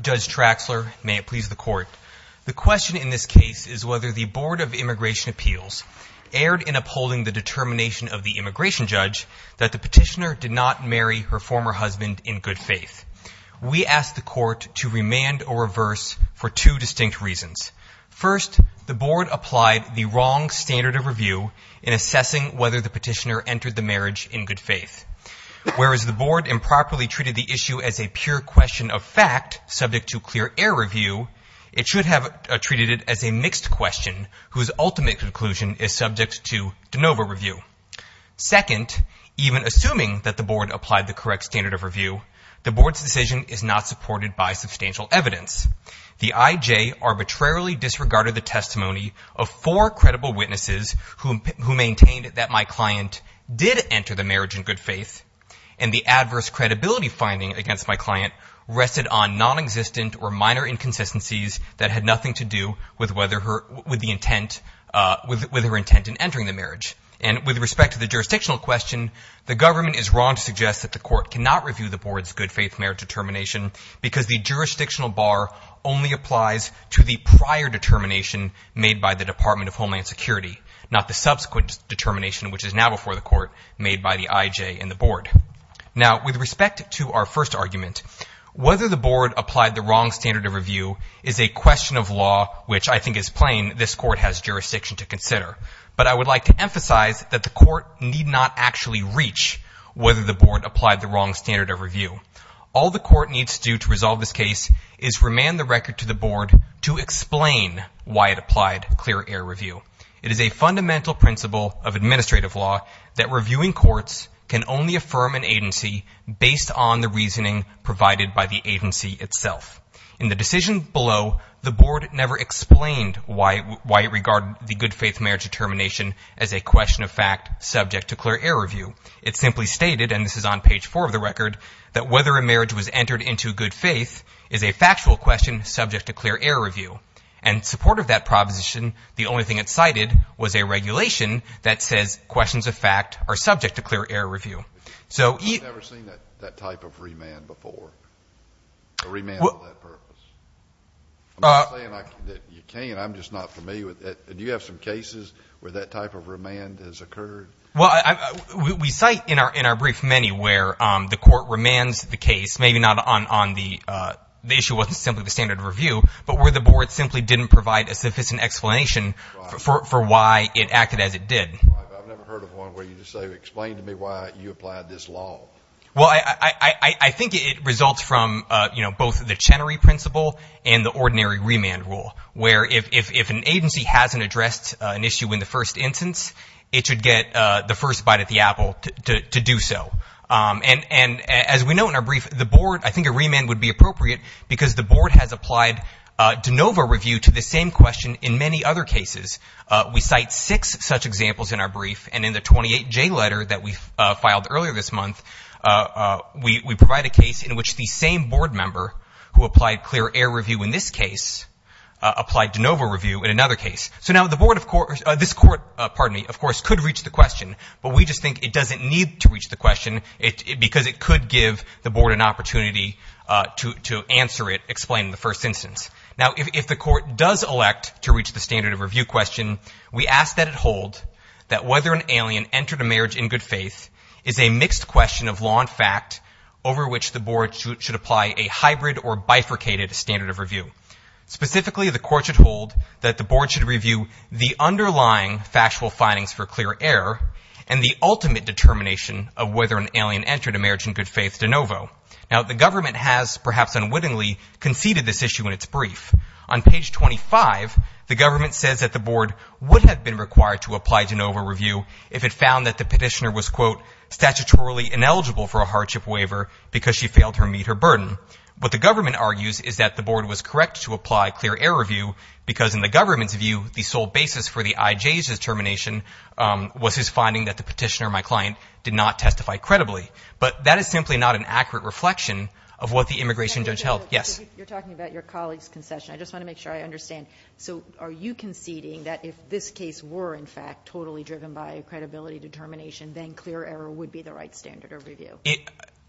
Judge Traxler, may it please the Court. The question in this case is whether the Board of Immigration Appeals erred in upholding the determination of the immigration judge that the petitioner did not marry her former husband in good faith. We asked the Court to remand or reverse for two distinct reasons. First, the Board applied the wrong standard of review in assessing whether the petitioner entered the marriage in good faith. Whereas the Board improperly treated the issue as a pure question of fact subject to clear air review, it should have treated it as a mixed question whose ultimate conclusion is subject to de novo review. Second, even assuming that the Board applied the correct standard of review, the Board's decision is not supported by substantial evidence. The I.J. arbitrarily disregarded the testimony of four credible witnesses who maintained that my client did enter the marriage in good faith, and the adverse credibility finding against my client rested on nonexistent or minor inconsistencies that had nothing to do with her intent in entering the marriage. And with respect to the jurisdictional question, the government is wrong to suggest that the Court cannot review the Board's good faith marriage determination because the jurisdictional bar only applies to the prior determination made by the Department of Homeland Security, not the subsequent determination which is now before the Court made by the I.J. and the Board. Now, with respect to our first argument, whether the Board applied the wrong standard of review is a question of law which I think is plain this Court has jurisdiction to consider, but I would like to emphasize that the Court need not actually reach whether the Board applied the wrong standard of review. All the Court needs to do to resolve this case is remand the record to the Board to explain why it applied clear air review. It is a fundamental principle of administrative law that reviewing courts can only affirm an agency based on the reasoning provided by the agency itself. In the decision below, the Board never explained why it regarded the good faith marriage determination as a question of fact subject to clear air review. It simply stated, and this is on page four of the record, that whether a marriage was entered into good faith is a factual question subject to clear air review. And in support of that proposition, the only thing it cited was a regulation that says questions of fact are subject to clear air review. So you... I've never seen that type of remand before, a remand for that purpose. I'm not saying that you can't, I'm just not familiar with it. Do you have some cases where that type of remand has occurred? Well, we cite in our brief many where the Court remands the case, maybe not on the issue wasn't simply the standard of review, but where the Board simply didn't provide a sufficient explanation for why it acted as it did. I've never heard of one where you just say, explain to me why you applied this law. Well, I think it results from, you know, both the Chenery principle and the ordinary remand rule, where if an agency hasn't addressed an issue in the first instance, it should get the first bite at the apple to do so. And as we know in our brief, the Board, I think a remand would be appropriate because the Board has applied de novo review to the same question in many other cases. We cite six such examples in our brief, and in the 28J letter that we filed earlier this month, we provide a case in which the same Board member who applied clear air review in this case applied de novo review in another case. So now the Board, of course, this Court, pardon me, of course could reach the question, but we just think it doesn't need to reach the question because it could give the Board an opportunity to answer it, explain the first instance. Now if the Court does elect to reach the standard of review question, we ask that it hold that whether an alien entered a marriage in good faith is a mixed question of law and fact over which the Board should apply a hybrid or bifurcated standard of review. Specifically, the Court should hold that the Board should review the underlying factual findings for clear air and the ultimate determination of whether an alien entered a marriage in good faith de novo. Now the Government has, perhaps unwittingly, conceded this issue in its brief. On page 25, the Government says that the Board would have been required to apply de novo review if it found that the petitioner was, quote, statutorily ineligible for a hardship waiver because she failed to meet her burden. What the Government argues is that the Board was correct to apply clear air review because in the Government's view, the sole basis for the IJ's determination was his finding that the petitioner, my client, did not testify credibly. But that is simply not an accurate reflection of what the immigration judge held. Yes? You're talking about your colleague's concession. I just want to make sure I understand. So are you conceding that if this case were, in fact, totally driven by a credibility determination, then clear air would be the right standard of review?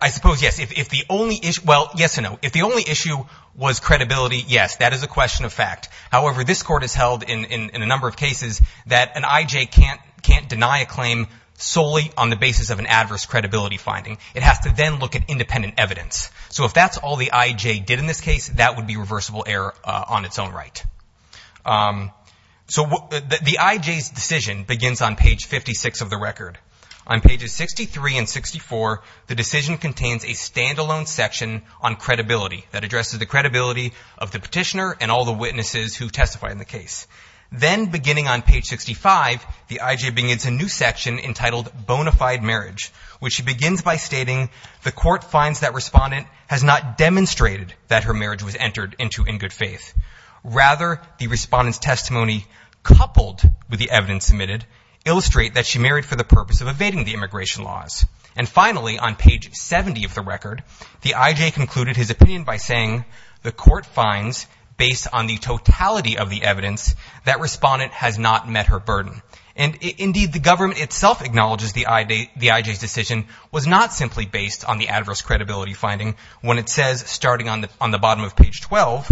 I suppose, yes. If the only issue, well, yes and no. If the only issue was credibility, yes, that is a question of fact. However, this Court has held in a number of cases that an IJ can't deny a claim solely on the basis of an adverse credibility finding. It has to then look at independent evidence. So if that's all the IJ did in this case, that would be reversible error on its own right. So the IJ's decision begins on page 56 of the record. On pages 63 and 64, the decision contains a standalone section on credibility that addresses the credibility of the petitioner and all the witnesses who testify in the case. Then beginning on page 65, the IJ begins a new section entitled Bonafide Marriage, which she begins by stating the Court finds that respondent has not demonstrated that her marriage was entered into in good faith. Rather, the respondent's testimony coupled with the evidence submitted illustrate that she married for the purpose of evading the immigration laws. And finally, on page 70 of the record, the IJ concluded his opinion by saying the Court finds, based on the totality of the evidence, that respondent has not met her burden. And indeed, the government itself acknowledges the IJ's decision was not simply based on the adverse credibility finding when it says, starting on the bottom of page 12,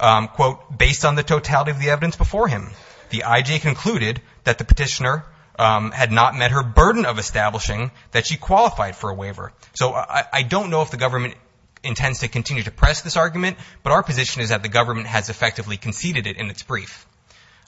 quote, based on the totality of the evidence before him, the IJ concluded that the petitioner had not met her burden of establishing that she qualified for a waiver. So I don't know if the government intends to continue to press this argument, but our position is that the government has effectively conceded it in its brief.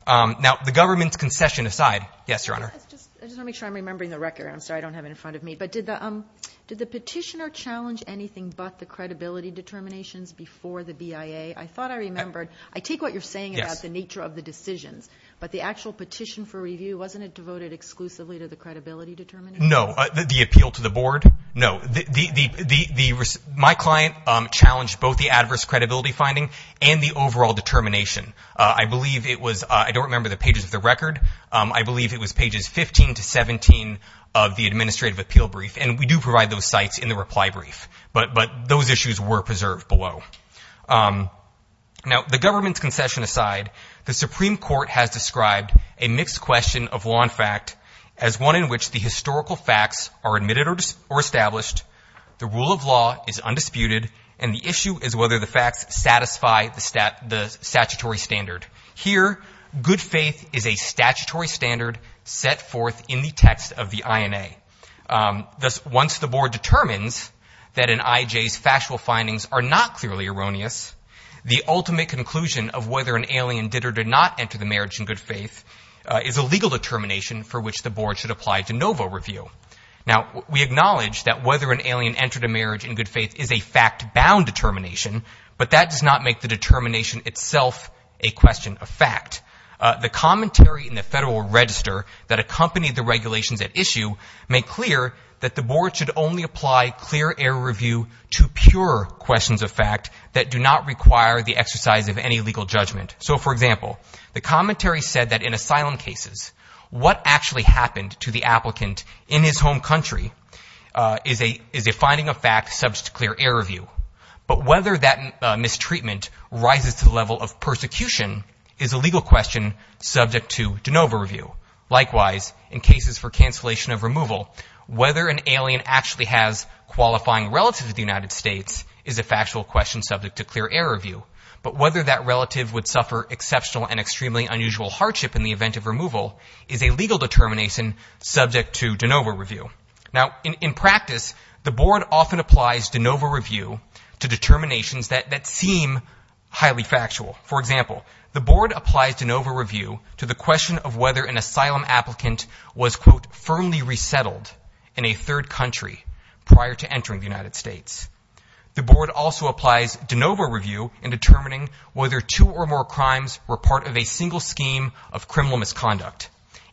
Now, the government's concession aside, yes, Your Honor? I just want to make sure I'm remembering the record. I'm sorry, I don't have it in front of me. But did the petitioner challenge anything but the credibility determinations before the BIA? I thought I remembered. I take what you're saying about the nature of the decisions, but the actual petition for review, wasn't it devoted exclusively to the credibility determination? No, the appeal to the board? No, the my client challenged both the adverse credibility finding and the overall determination. I believe it was I don't remember the pages of the record. I believe it was pages 15 to 17 of the administrative appeal brief. And we do provide those sites in the reply brief. But but those issues were preserved below. Now, the government's concession aside, the Supreme Court has described a mixed question of law and fact as one in which the historical facts are admitted or established. The rule of law is undisputed. And the issue is whether the facts satisfy the statutory standard. Here, good faith is a statutory standard set forth in the text of the INA. Thus, once the board determines that an IJ's factual findings are not clearly erroneous, the ultimate conclusion of whether an alien did or did not enter the marriage in good faith is a legal determination for which the board should apply to NOVA review. Now, we acknowledge that whether an alien entered a marriage in good faith is a fact bound determination, but that does not make the determination itself a question of fact. The commentary in the federal register that accompanied the regulations at issue make clear that the board should only apply clear air review to pure questions of fact that do not require the exercise of any legal judgment. So, for example, the commentary said that in asylum cases, what actually happened to the applicant in his home country is a is a finding of fact, subject to clear air review. But whether that mistreatment rises to the level of persecution is a legal question subject to NOVA review. Likewise, in cases for cancellation of removal, whether an alien actually has qualifying relative to the United States is a factual question subject to clear air review. But whether that relative would suffer exceptional and extremely unusual hardship in the event of removal is a legal determination subject to NOVA review. Now, in practice, the board often applies to NOVA review to determinations that that seem highly factual. For example, the board applies to NOVA review to the question of whether an asylum applicant was, quote, firmly resettled in a third country prior to entering the United States. The board also applies to NOVA review in determining whether two or more crimes were part of a single scheme of criminal misconduct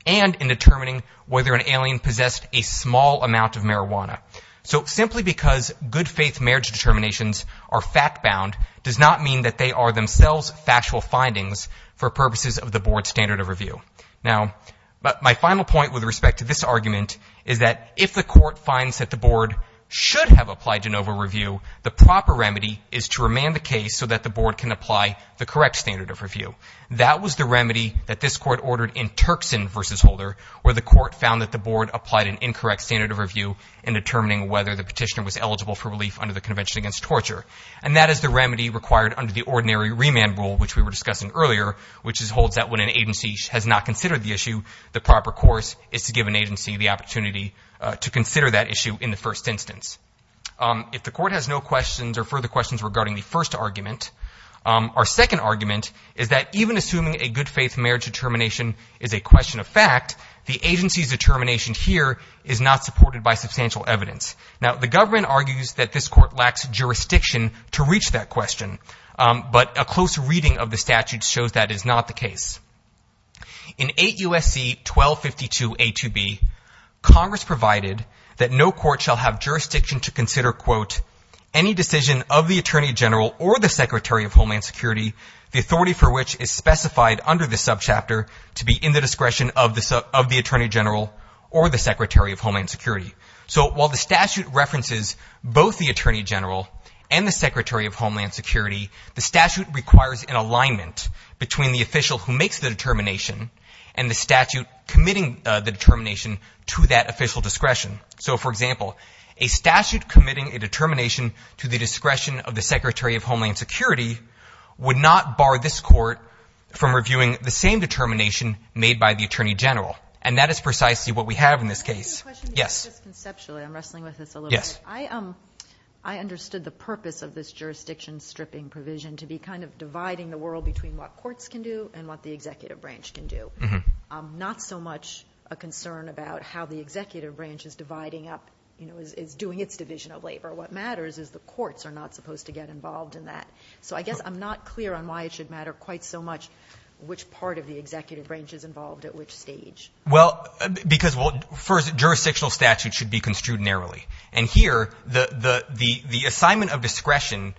and in determining whether an alien possessed a small amount of marijuana. So simply because good faith marriage determinations are fact bound does not mean that they are themselves factual findings for purposes of the board's standard of review. Now, but my final point with respect to this argument is that if the court finds that the board should have applied to NOVA review, the proper remedy is to remand the case so that the board can apply the correct standard of review. That was the remedy that this court ordered in Turkson versus Holder, where the court found that the board applied an incorrect standard of review and determining whether the petitioner was eligible for relief under the Convention Against Torture. And that is the remedy required under the ordinary remand rule, which we were discussing earlier, which is holds that when an agency has not considered the issue, the proper course is to give an agency the opportunity to consider that issue in the first instance. If the court has no questions or further questions regarding the first argument, our second argument is that even assuming a good faith marriage determination is a question of fact, the agency's determination here is not supported by substantial evidence. Now, the government argues that this court lacks jurisdiction to reach that question. But a close reading of the statute shows that is not the case. In 8 U.S.C. 1252 A2B, Congress provided that no court shall have jurisdiction to consider, quote, any decision of the attorney general or the secretary of Homeland Security, the authority for which is specified under the subchapter to be in the discretion of the of the attorney general or the secretary of Homeland Security. So while the statute references both the attorney general and the secretary of Homeland Security, the statute requires an alignment between the official who makes the determination and the statute committing the determination to that official discretion. So, for example, a statute committing a determination to the discretion of the secretary of Homeland Security would not bar this court from reviewing the same determination made by the attorney general. And that is precisely what we have in this case. Yes. Just conceptually, I'm wrestling with this a little bit. I understood the purpose of this jurisdiction stripping provision to be kind of dividing the world between what courts can do and what the executive branch can do. Not so much a concern about how the executive branch is dividing up, you know, is doing its division of labor. What matters is the courts are not supposed to get involved in that. So I guess I'm not clear on why it should matter quite so much which part of the executive branch is involved at which stage. Well, because first jurisdictional statute should be construed narrowly. And here, the assignment of discretion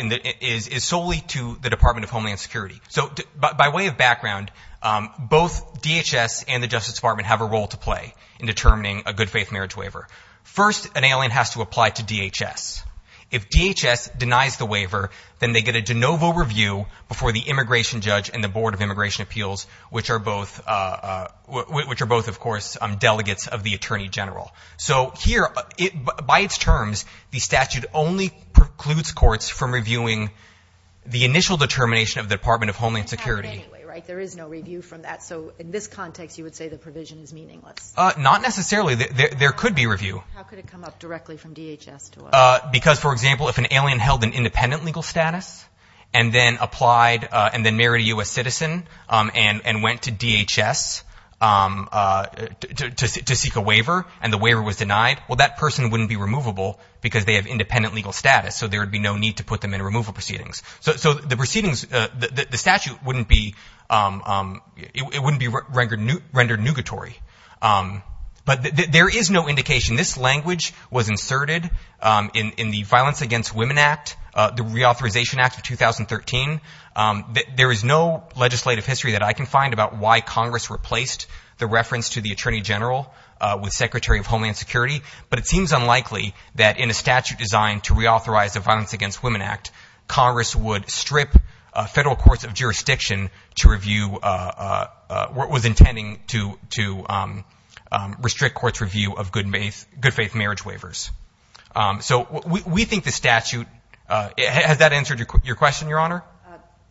is solely to the Department of Homeland Security. So by way of background, both DHS and the Justice Department have a role to play in determining a good faith marriage waiver. First, an alien has to apply to DHS. If DHS denies the waiver, then they get a de novo review before the immigration judge and the Board of Immigration Appeals, which are both, which are both, of course, delegates of the attorney general. So here, by its terms, the statute only precludes courts from reviewing the initial determination of the Department of Homeland Security. You can't have any, right? There is no review from that. So in this context, you would say the provision is meaningless. Not necessarily. There could be review. How could it come up directly from DHS to us? Because, for example, if an alien held an independent legal status and then applied and then married a U.S. citizen and went to DHS to seek a waiver and the waiver was denied, well, that person wouldn't be removable because they have independent legal status. So there would be no need to put them in removal proceedings. So the proceedings, the statute wouldn't be, it wouldn't be rendered nugatory. But there is no indication. This language was inserted in the Violence Against Women Act, the Reauthorization Act of 2013. There is no legislative history that I can find about why Congress replaced the reference to the attorney general with Secretary of Homeland Security. But it seems unlikely that in a statute designed to reauthorize the Violence Against Women Act, Congress would strip federal courts of jurisdiction to review what was intending to restrict courts review of good faith marriage waivers. So we think the statute, has that answered your question, Your Honor?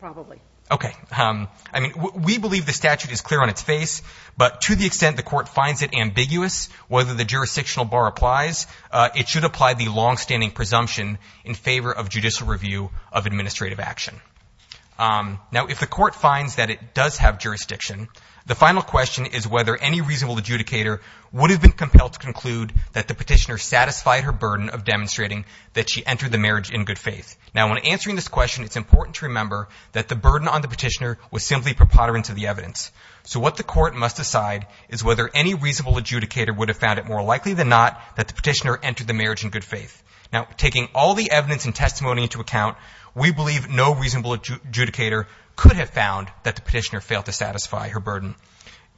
Probably. Okay. I mean, we believe the statute is clear on its face, but to the extent the court finds it ambiguous whether the jurisdictional bar applies, it should apply the longstanding presumption in favor of judicial review of administrative action. Now, if the court finds that it does have jurisdiction, the final question is whether any reasonable adjudicator would have been compelled to conclude that the petitioner satisfied her burden of demonstrating that she entered the marriage in good faith. Now, when answering this question, it's important to remember that the burden on the petitioner was simply preponderance of the evidence. So what the court must decide is whether any reasonable adjudicator would have found it more likely than not that the petitioner entered the marriage in good faith. Now, taking all the evidence and testimony into account, we believe no reasonable adjudicator could have found that the petitioner failed to satisfy her burden.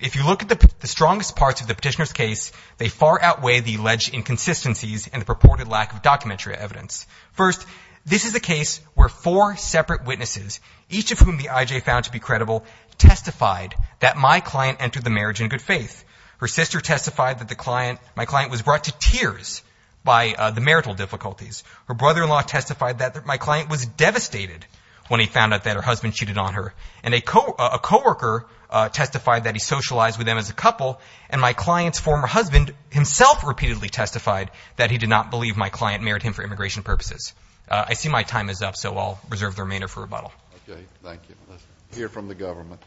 If you look at the strongest parts of the petitioner's case, they far outweigh the alleged inconsistencies and the purported lack of documentary evidence. First, this is a case where four separate witnesses, each of whom the I.J. found to be credible, testified that my client entered the marriage in good faith. Her sister testified that the client, my client was brought to tears by the marital difficulties. Her brother-in-law testified that my client was devastated when he found out that her husband cheated on her. And a coworker testified that he socialized with them as a couple. And my client's former husband himself repeatedly testified that he did not believe my client married him for immigration purposes. I see my time is up, so I'll reserve the remainder for rebuttal. Okay. Thank you. Let's hear from the government.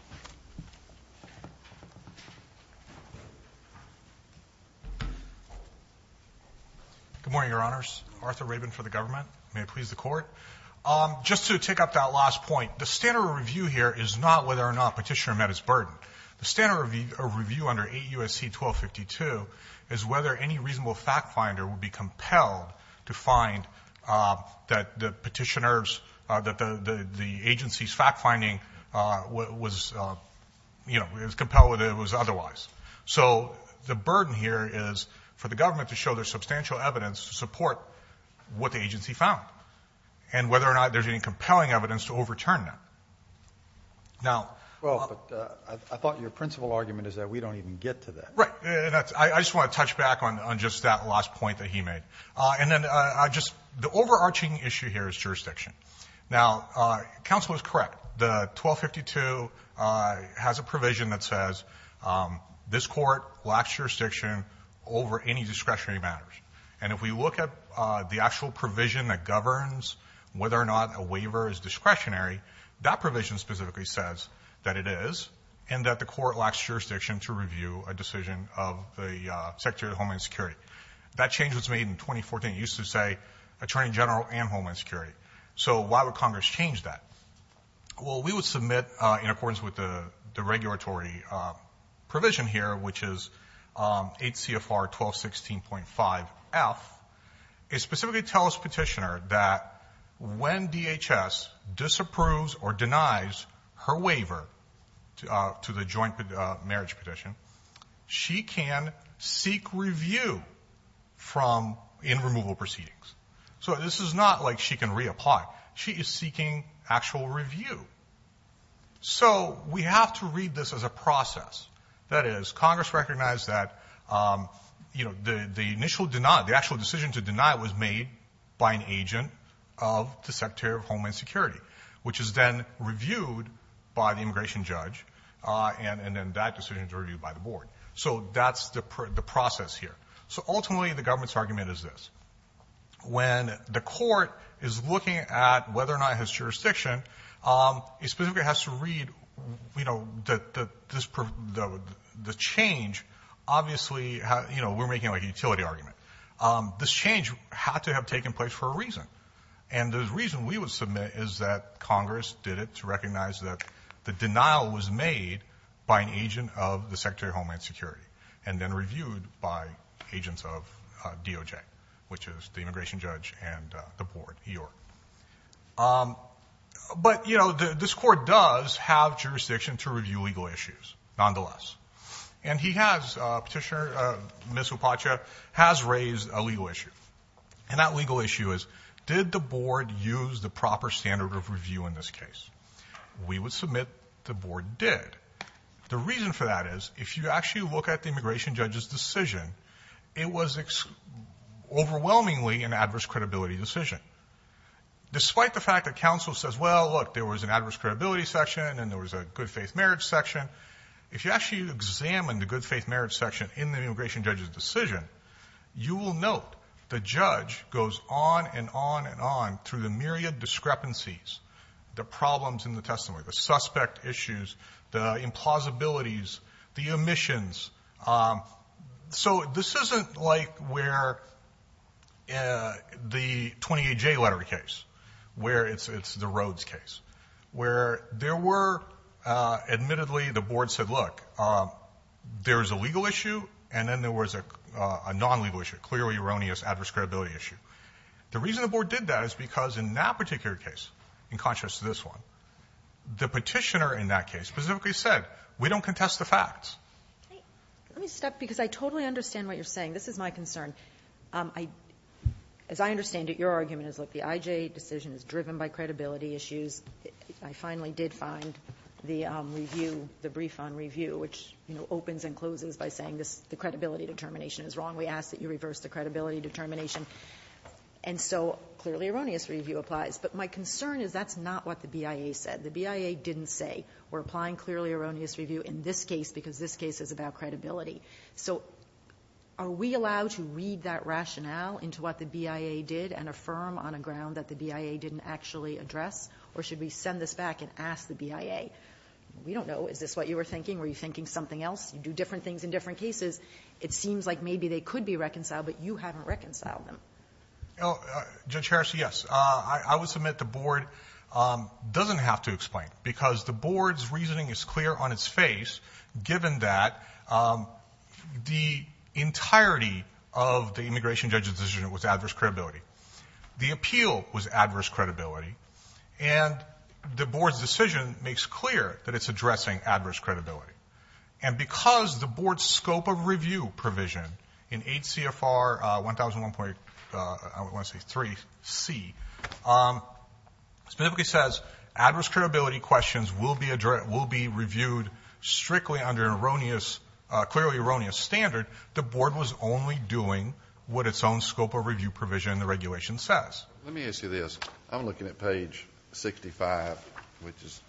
Good morning, Your Honors. Arthur Rabin for the government. May it please the court. Just to take up that last point, the standard review here is not whether or not petitioner met his burden. The standard of review under 8 U.S.C. 1252 is whether any reasonable fact finder would be compelled to find that the petitioners, that the agency's fact finding was, you know, it was compelled whether it was otherwise. So the burden here is for the government to show their substantial evidence to support what the agency found and whether or not there's any compelling evidence to overturn that. Now. Well, I thought your principal argument is that we don't even get to that. Right. And that's, I just want to touch back on, on just that last point that he made. And then I just, the overarching issue here is jurisdiction. Now, counsel is correct. The 1252 has a provision that says this court lacks jurisdiction over any discretionary matters. And if we look at the actual provision that governs whether or not a waiver is that provision specifically says that it is, and that the court lacks jurisdiction to review a decision of the Secretary of Homeland Security, that change was made in 2014. It used to say attorney general and Homeland Security. So why would Congress change that? Well, we would submit in accordance with the, the regulatory provision here, which is 8 CFR 1216.5 F is specifically tell us petitioner that when DHS disapproves or denies her waiver to the joint marriage petition, she can seek review from in removal proceedings. So this is not like she can reapply. She is seeking actual review. So we have to read this as a process that is Congress recognized that you know, the, the initial denied, the actual decision to deny it was made by an agent of the reviewed by the immigration judge. Uh, and, and then that decision is reviewed by the board. So that's the PR the process here. So ultimately the government's argument is this. When the court is looking at whether or not his jurisdiction, um, is specifically has to read, you know, the, the, this, the, the change obviously, you know, we're making like a utility argument. Um, this change had to have taken place for a reason. And the reason we would submit is that Congress did it to recognize that the denial was made by an agent of the secretary of Homeland security, and then reviewed by agents of DOJ, which is the immigration judge and the board. Um, but you know, the, this court does have jurisdiction to review legal issues nonetheless, and he has a petitioner, uh, Ms. And that legal issue is did the board use the proper standard of review in this case? We would submit the board did. The reason for that is if you actually look at the immigration judge's decision, it was overwhelmingly an adverse credibility decision, despite the fact that counsel says, well, look, there was an adverse credibility section and there was a good faith marriage section. If you actually examine the good faith marriage section in the immigration judge's decision, you will note the judge goes on and on and on through the myriad discrepancies, the problems in the testimony, the suspect issues, the implausibilities, the omissions. Um, so this isn't like where, uh, the 28 J letter case where it's, it's the Rhodes case where there were, uh, admittedly the board said, look, um, there's a legal issue and then there was a, uh, a non-legal issue, clearly erroneous adverse credibility issue. The reason the board did that is because in that particular case, in contrast to this one, the petitioner in that case specifically said, we don't contest the facts. Let me stop because I totally understand what you're saying. This is my concern. Um, I, as I understand it, your argument is like the IJ decision is driven by credibility issues. I finally did find the review, the brief on review, which, you know, opens and closes by saying this, the credibility determination is wrong. We ask that you reverse the credibility determination. And so clearly erroneous review applies. But my concern is that's not what the BIA said. The BIA didn't say we're applying clearly erroneous review in this case, because this case is about credibility. So are we allowed to read that rationale into what the BIA did and affirm on a or should we send this back and ask the BIA, we don't know, is this what you were thinking? Were you thinking something else? You do different things in different cases. It seems like maybe they could be reconciled, but you haven't reconciled them. Oh, uh, judge Harris. Yes. Uh, I, I would submit the board, um, doesn't have to explain because the board's reasoning is clear on its face, given that, um, the entirety of the immigration judge's decision was adverse credibility. The appeal was adverse credibility. And the board's decision makes clear that it's addressing adverse credibility. And because the board's scope of review provision in 8 CFR, uh, 1,001 point, uh, I would want to say three C, um, specifically says adverse credibility questions will be addressed, will be reviewed strictly under an erroneous, uh, clearly erroneous standard. The board was only doing what its own scope of review provision. The regulation says, let me ask you this. I'm looking at page 65, which is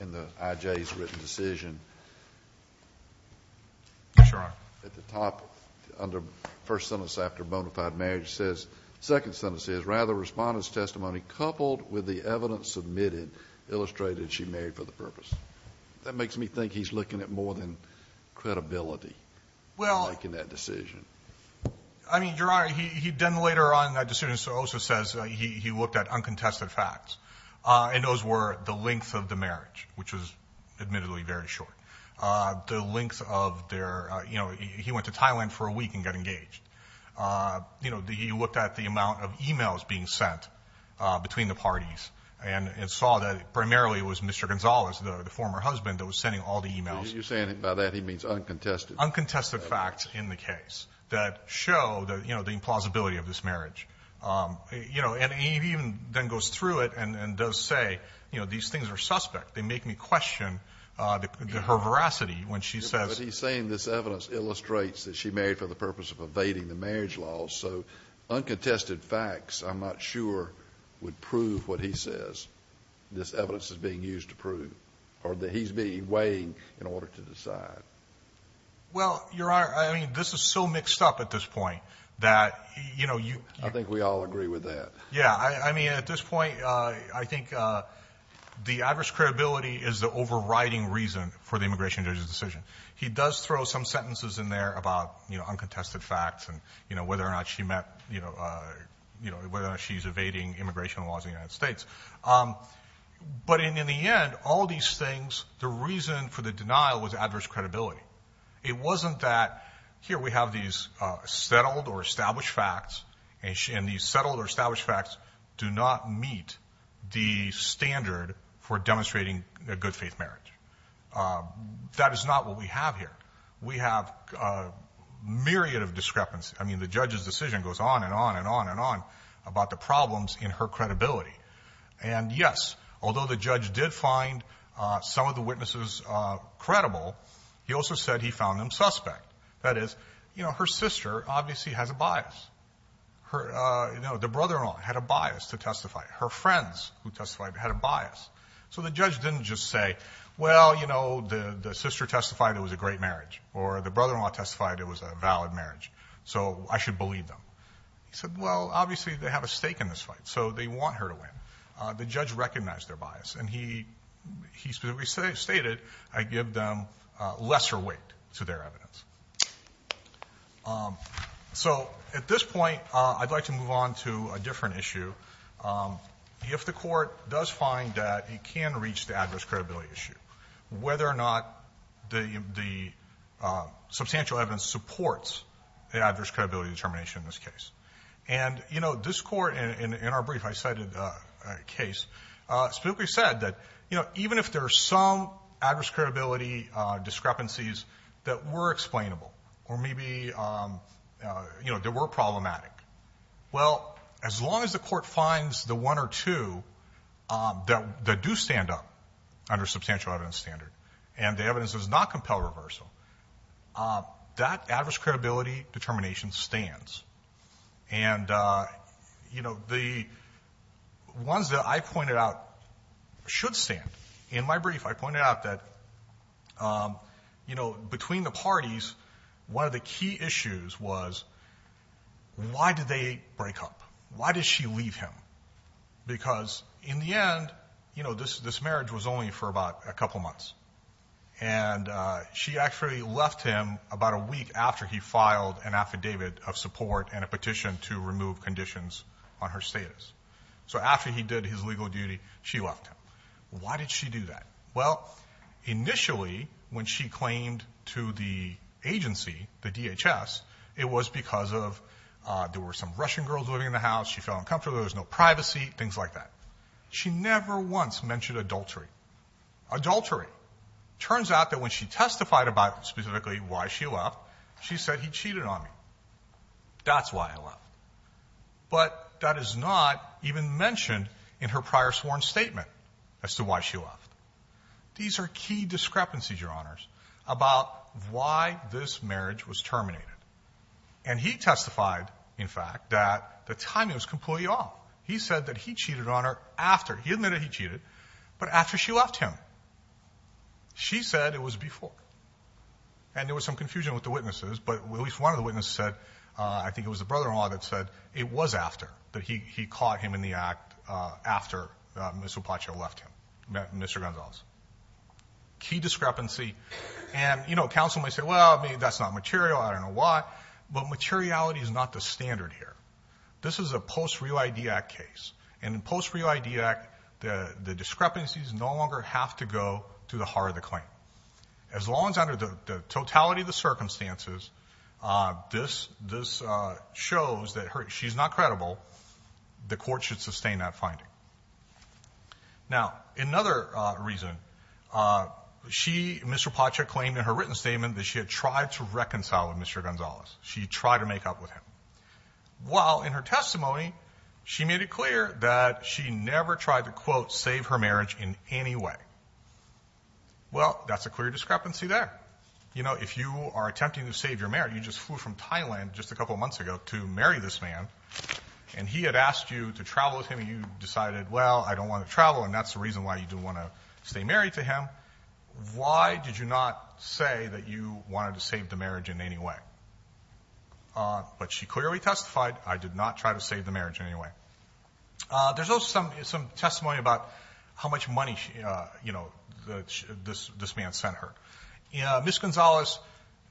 in the IJ's written decision. At the top under first sentence after bonafide marriage says second sentence is rather respondents testimony coupled with the evidence submitted illustrated she married for the purpose. That makes me think he's looking at more than credibility. Well, I mean, your honor, he, he'd done later on that decision. So also says, uh, he, he looked at uncontested facts, uh, and those were the length of the marriage, which was admittedly very short, uh, the length of their, uh, you know, he, he went to Thailand for a week and get engaged. Uh, you know, the, he looked at the amount of emails being sent, uh, between the parties and, and saw that primarily it was Mr. Gonzalez, the former husband that was sending all the emails. You're saying by that, he means uncontested. Uncontested facts in the case that show that, you know, the plausibility of this marriage. Um, you know, and he even then goes through it and does say, you know, these things are suspect. They make me question, uh, the, her veracity when she says he's saying this evidence illustrates that she married for the purpose of evading the marriage law. So uncontested facts, I'm not sure would prove what he says. This evidence is being used to prove or that he's being weighing in order to decide. Well, your honor, I mean, this is so mixed up at this point that, you know, you, I think we all agree with that. Yeah. I mean, at this point, uh, I think, uh, the adverse credibility is the overriding reason for the immigration judge's decision. He does throw some sentences in there about, you know, uncontested facts and, you know, whether or not she met, you know, uh, you know, whether or not she's evading immigration laws in the United States. Um, but in, in the end, all these things, the reason for the denial was adverse credibility. It wasn't that here we have these, uh, settled or established facts and these settled or established facts do not meet the standard for demonstrating a good faith marriage. Um, that is not what we have here. We have a myriad of discrepancy. I mean, the judge's decision goes on and on and on and on about the problems in her credibility. And yes, although the judge did find, uh, some of the witnesses, uh, he also said he found them suspect. That is, you know, her sister obviously has a bias. Her, uh, you know, the brother-in-law had a bias to testify. Her friends who testified had a bias. So the judge didn't just say, well, you know, the, the sister testified it was a great marriage or the brother-in-law testified it was a valid marriage. So I should believe them. He said, well, obviously they have a stake in this fight. So they want her to win. Uh, the judge recognized their bias and he, he specifically stated, I give them a lesser weight to their evidence. Um, so at this point, uh, I'd like to move on to a different issue. Um, if the court does find that it can reach the adverse credibility issue, whether or not the, the, uh, substantial evidence supports the adverse credibility determination in this case. And, you know, this court in our brief, I cited a case, uh, specifically said that, you know, even if there are some adverse credibility, uh, discrepancies that were explainable, or maybe, um, uh, you know, there were problematic, well, as long as the court finds the one or two, um, that do stand up under substantial evidence standard and the evidence does not compel reversal, uh, that adverse credibility determination stands. And, uh, you know, the ones that I pointed out should stand in my brief, I pointed out that, um, you know, between the parties, one of the key issues was why did they break up? Why did she leave him? Because in the end, you know, this, this marriage was only for about a couple of months and, uh, she actually left him about a week after he filed an a petition to remove conditions on her status. So after he did his legal duty, she left him. Why did she do that? Well, initially when she claimed to the agency, the DHS, it was because of, uh, there were some Russian girls living in the house. She felt uncomfortable. There was no privacy, things like that. She never once mentioned adultery. Adultery. Turns out that when she testified about specifically why she left, she said he cheated on me. That's why I left, but that is not even mentioned in her prior sworn statement as to why she left. These are key discrepancies, your honors, about why this marriage was terminated. And he testified in fact, that the timing was completely off. He said that he cheated on her after he admitted he cheated, but after she left him, she said it was before, and there was some confusion with the witnesses, but at least one of the witnesses said, uh, I think it was the brother-in-law that said it was after that he, he caught him in the act, uh, after, uh, Ms. Hupacho left him, Mr. Gonzalez. Key discrepancy. And, you know, counsel might say, well, maybe that's not material. I don't know why, but materiality is not the standard here. This is a post real ID act case. And in post real ID act, the discrepancies no longer have to go to the heart of the claim. As long as under the totality of the circumstances, uh, this, this, uh, shows that she's not credible. The court should sustain that finding. Now, another reason, uh, she, Mr. Hupacho claimed in her written statement that she had tried to reconcile with Mr. Gonzalez. She tried to make up with him while in her testimony, she made it clear that she never tried to quote, save her marriage in any way. Well, that's a clear discrepancy there. You know, if you are attempting to save your marriage, you just flew from Thailand just a couple of months ago to marry this man. And he had asked you to travel with him and you decided, well, I don't want to travel. And that's the reason why you didn't want to stay married to him. Why did you not say that you wanted to save the marriage in any way? Uh, but she clearly testified. I did not try to save the marriage in any way. Uh, there's also some, some testimony about how much money, uh, you know, the, this, this man sent her, uh, Miss Gonzalez,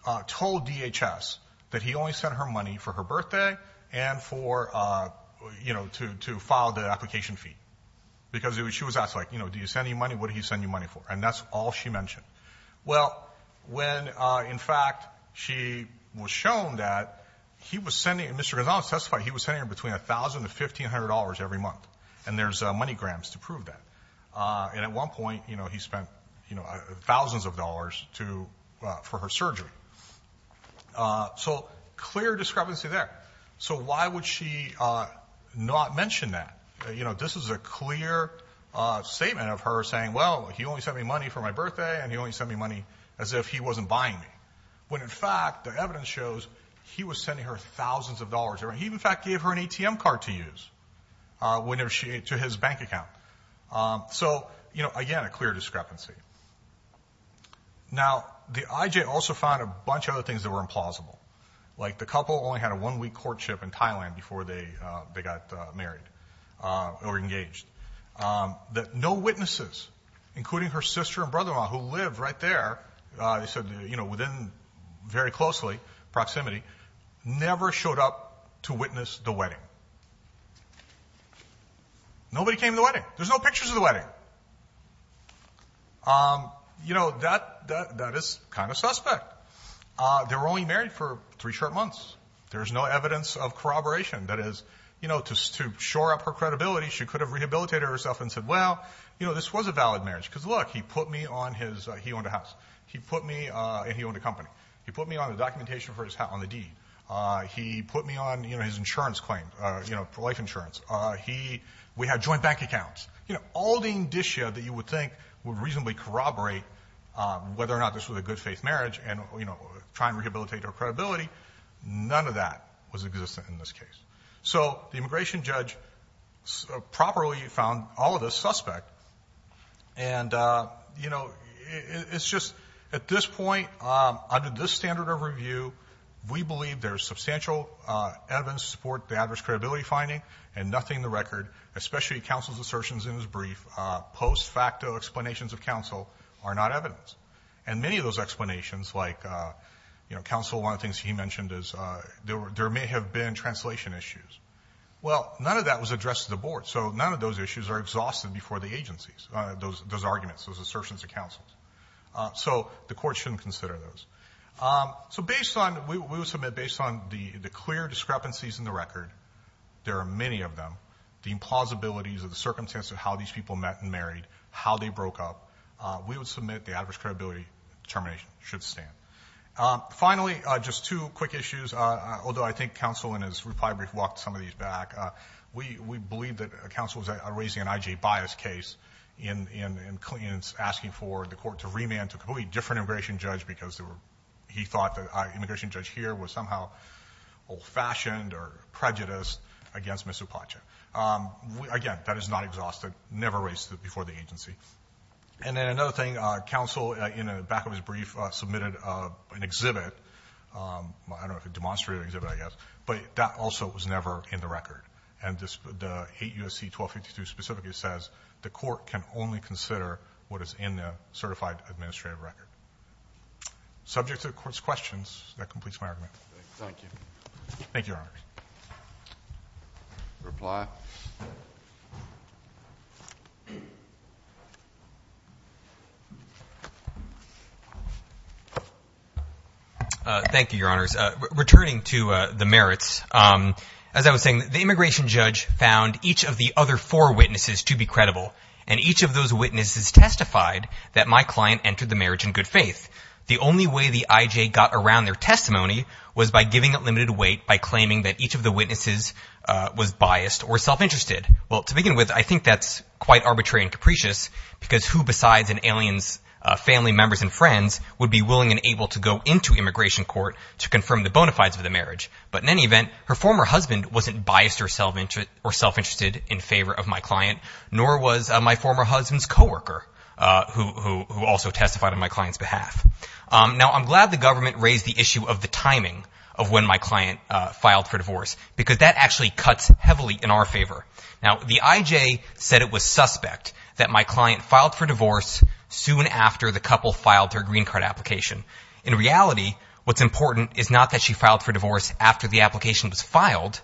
uh, told DHS that he only sent her money for her birthday and for, uh, you know, to, to file the application fee because it was, she was asked like, you know, do you send any money? What did he send you money for? And that's all she mentioned. Well, when, uh, in fact, she was shown that he was sending, Mr. Gonzalez testified, he was sending her between a thousand to $1,500 every month. And there's a money grams to prove that. Uh, and at one point, you know, he spent, you know, thousands of dollars to, uh, for her surgery. Uh, so clear discrepancy there. So why would she, uh, not mention that, you know, this is a clear, uh, statement of her saying, well, he only sent me money for my birthday and he only sent me money as if he wasn't buying me. When in fact, the evidence shows he was sending her thousands of dollars or he in fact gave her an ATM card to use, uh, whenever she, to his bank account. Um, so, you know, again, a clear discrepancy. Now the IJ also found a bunch of other things that were implausible. Like the couple only had a one week courtship in Thailand before they, uh, they got married, uh, or engaged, um, that no witnesses, including her sister and brother-in-law who lived right there. Uh, they said, you know, within very closely proximity, never showed up to witness the wedding. Nobody came to the wedding. There's no pictures of the wedding. Um, you know, that, that, that is kind of suspect. Uh, they were only married for three short months. There's no evidence of corroboration that is, you know, to shore up her credibility. She could have rehabilitated herself and said, well, you know, this was a valid marriage because look, he put me on his, uh, he owned a house. He put me, uh, and he owned a company. He put me on the documentation for his hat on the deed. Uh, he put me on, you know, his insurance claim, uh, you know, for life insurance. Uh, he, we had joint bank accounts, you know, all the indicia that you would think would reasonably corroborate, um, whether or not this was a good faith marriage and, you know, try and rehabilitate her credibility, none of that was existent in this case. So the immigration judge properly found all of this suspect. And, uh, you know, it's just at this point, um, under this standard of review, we believe there's substantial, uh, evidence to support the adverse credibility finding and nothing in the record, especially counsel's assertions in his brief, uh, post facto explanations of counsel are not evidence. And many of those explanations like, uh, you know, counsel, one of the things he mentioned is, uh, there were, there may have been translation issues. Well, none of that was addressed to the board. So none of those issues are exhausted before the agencies, uh, those, those arguments, those assertions of counsel. Uh, so the court shouldn't consider those. Um, so based on, we would submit based on the, the clear discrepancies in the record, there are many of them, the implausibilities of the circumstances of how these people met and married, how they broke up, uh, we would submit the adverse credibility determination should stand. Um, finally, uh, just two quick issues. Uh, although I think counsel in his reply brief walked some of these back, uh, we, we believe that, uh, counsel was raising an IJ bias case in, in, in Clinton's asking for the court to remand to a completely different immigration judge because there were, he thought that our immigration judge here was somehow old fashioned or prejudiced against Ms. Upacha. Um, again, that is not exhausted, never raised before the agency. And then another thing, uh, counsel, uh, in the back of his brief, uh, submitted, uh, an exhibit, um, I don't know if a demonstrative exhibit, I guess, but that also was never in the record. And this, the eight USC 1252 specifically says the court can only consider what is in the certified administrative record. Subject to the court's questions that completes my argument. Thank you. Thank you. Reply. Uh, thank you, your honors, uh, returning to, uh, the merits. Um, as I was saying, the immigration judge found each of the other four witnesses to be credible. And each of those witnesses testified that my client entered the marriage in good faith. The only way the IJ got around their testimony was by giving it limited weight by claiming that each of the witnesses, uh, was biased or self interested. Well, to begin with, I think that's quite arbitrary and capricious because who besides an alien's, uh, family members and friends would be willing and able to go into immigration court to confirm the bona fides of the marriage. But in any event, her former husband wasn't biased or self-interested or self-interested in favor of my client, nor was my former husband's coworker, uh, who, who, who also testified on my client's behalf. Um, now I'm glad the government raised the issue of the timing of when my client, uh, filed for divorce, because that actually cuts heavily in our favor. Now, the IJ said it was suspect that my client filed for divorce soon after the couple filed their green card application. In reality, what's important is not that she filed for divorce after the application was filed,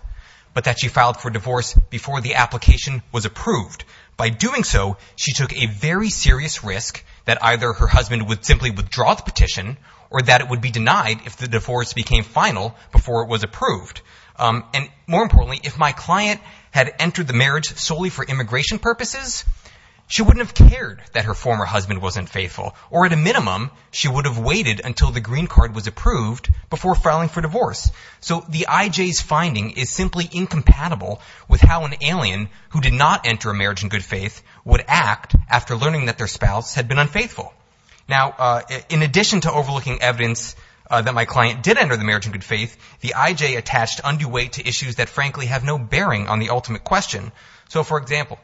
but that she filed for divorce before the application was approved by doing so. She took a very serious risk that either her husband would simply withdraw the petition or that it would be denied if the divorce became final before it was approved. Um, and more importantly, if my client had entered the marriage solely for immigration purposes, she wouldn't have cared that her former husband wasn't faithful or at a minimum, she would have waited until the green card was approved before filing for divorce. So the IJ's finding is simply incompatible with how an alien who did not enter a marriage in good faith would act after learning that their spouse had been unfaithful. Now, uh, in addition to overlooking evidence, uh, that my client did enter the marriage in good faith, the IJ attached undue weight to issues that frankly have no bearing on the ultimate question. So for example,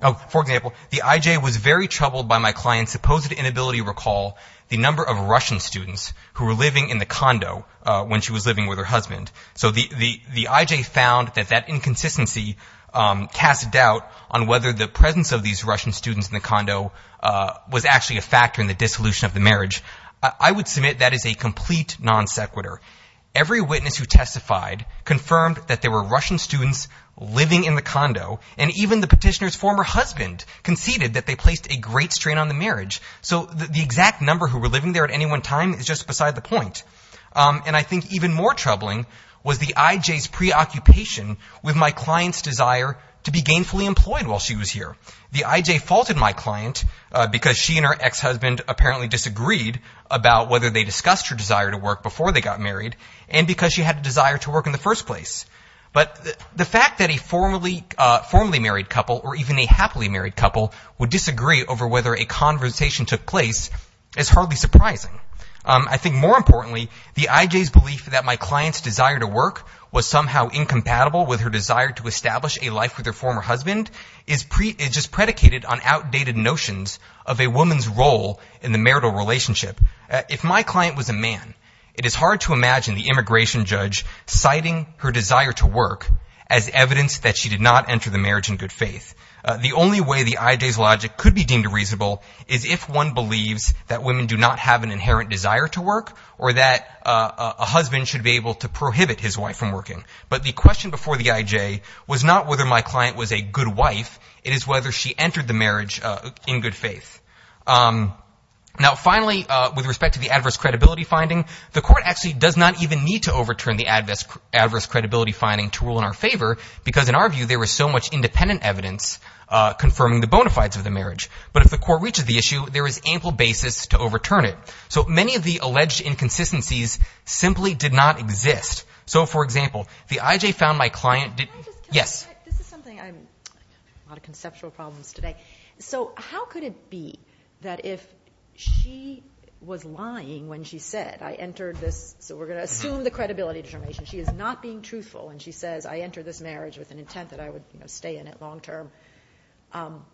oh, for example, the IJ was very troubled by my client's supposed inability to recall the number of Russian students who were living in the condo, uh, when she was living with her husband. So the, the, the IJ found that that inconsistency, um, cast doubt on whether the presence of these Russian students in the condo, uh, was actually a factor in the dissolution of the marriage. I would submit that as a complete non sequitur, every witness who testified confirmed that there were Russian students living in the condo and even the petitioner's former husband conceded that they placed a great strain on the marriage. So the exact number who were living there at any one time is just beside the point. Um, and I think even more troubling was the IJ's preoccupation with my client's desire to be gainfully employed while she was here. The IJ faulted my client, uh, because she and her ex-husband apparently disagreed about whether they discussed her desire to work before they got married and because she had a desire to work in the first place. But the fact that a formerly, uh, formerly married couple or even a happily married couple would disagree over whether a conversation took place is hardly surprising. Um, I think more importantly, the IJ's belief that my client's desire to work was somehow incompatible with her desire to establish a life with her former husband is pre it just predicated on outdated notions of a woman's role in the marital relationship. If my client was a man, it is hard to imagine the immigration judge citing her desire to work as evidence that she did not enter the marriage in good faith. Uh, the only way the IJ's logic could be deemed reasonable is if one believes that women do not have an inherent desire to work or that, uh, a husband should be able to prohibit his wife from working. But the question before the IJ was not whether my client was a good wife. It is whether she entered the marriage, uh, in good faith. Um, now finally, uh, with respect to the adverse credibility finding, the court actually does not even need to overturn the adverse, adverse credibility finding to rule in our favor because in our view, there was so much independent evidence uh, confirming the bona fides of the marriage. But if the court reaches the issue, there is ample basis to overturn it. So many of the alleged inconsistencies simply did not exist. So for example, the IJ found my client did yes. This is something I'm a lot of conceptual problems today. So how could it be that if she was lying, when she said I entered this, so we're going to assume the credibility determination, she is not being truthful. And she says, I entered this marriage with an intent that I would stay in it long-term. Um,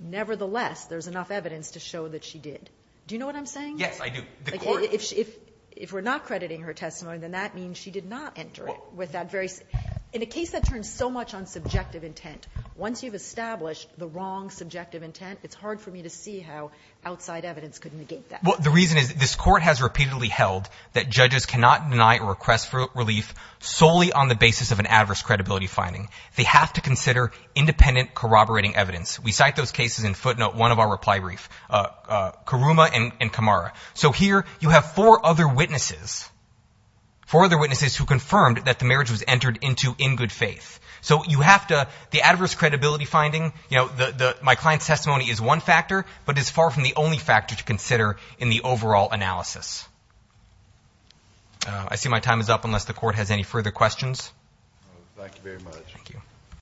nevertheless, there's enough evidence to show that she did. Do you know what I'm saying? Yes, I do. If, if, if we're not crediting her testimony, then that means she did not enter it with that very, in a case that turns so much on subjective intent. Once you've established the wrong subjective intent, it's hard for me to see how outside evidence could negate that. Well, the reason is this court has repeatedly held that judges cannot deny or request for relief solely on the basis of an adverse credibility finding. They have to consider independent corroborating evidence. We cite those cases in footnote, one of our reply brief, uh, uh, Karuma and Kamara. So here you have four other witnesses, four other witnesses who confirmed that the marriage was entered into in good faith. So you have to, the adverse credibility finding, you know, the, the, my client's testimony is one factor, but it's far from the only factor to consider in the overall analysis. Uh, I see my time is up unless the court has any further questions. Thank you very much. Thank you.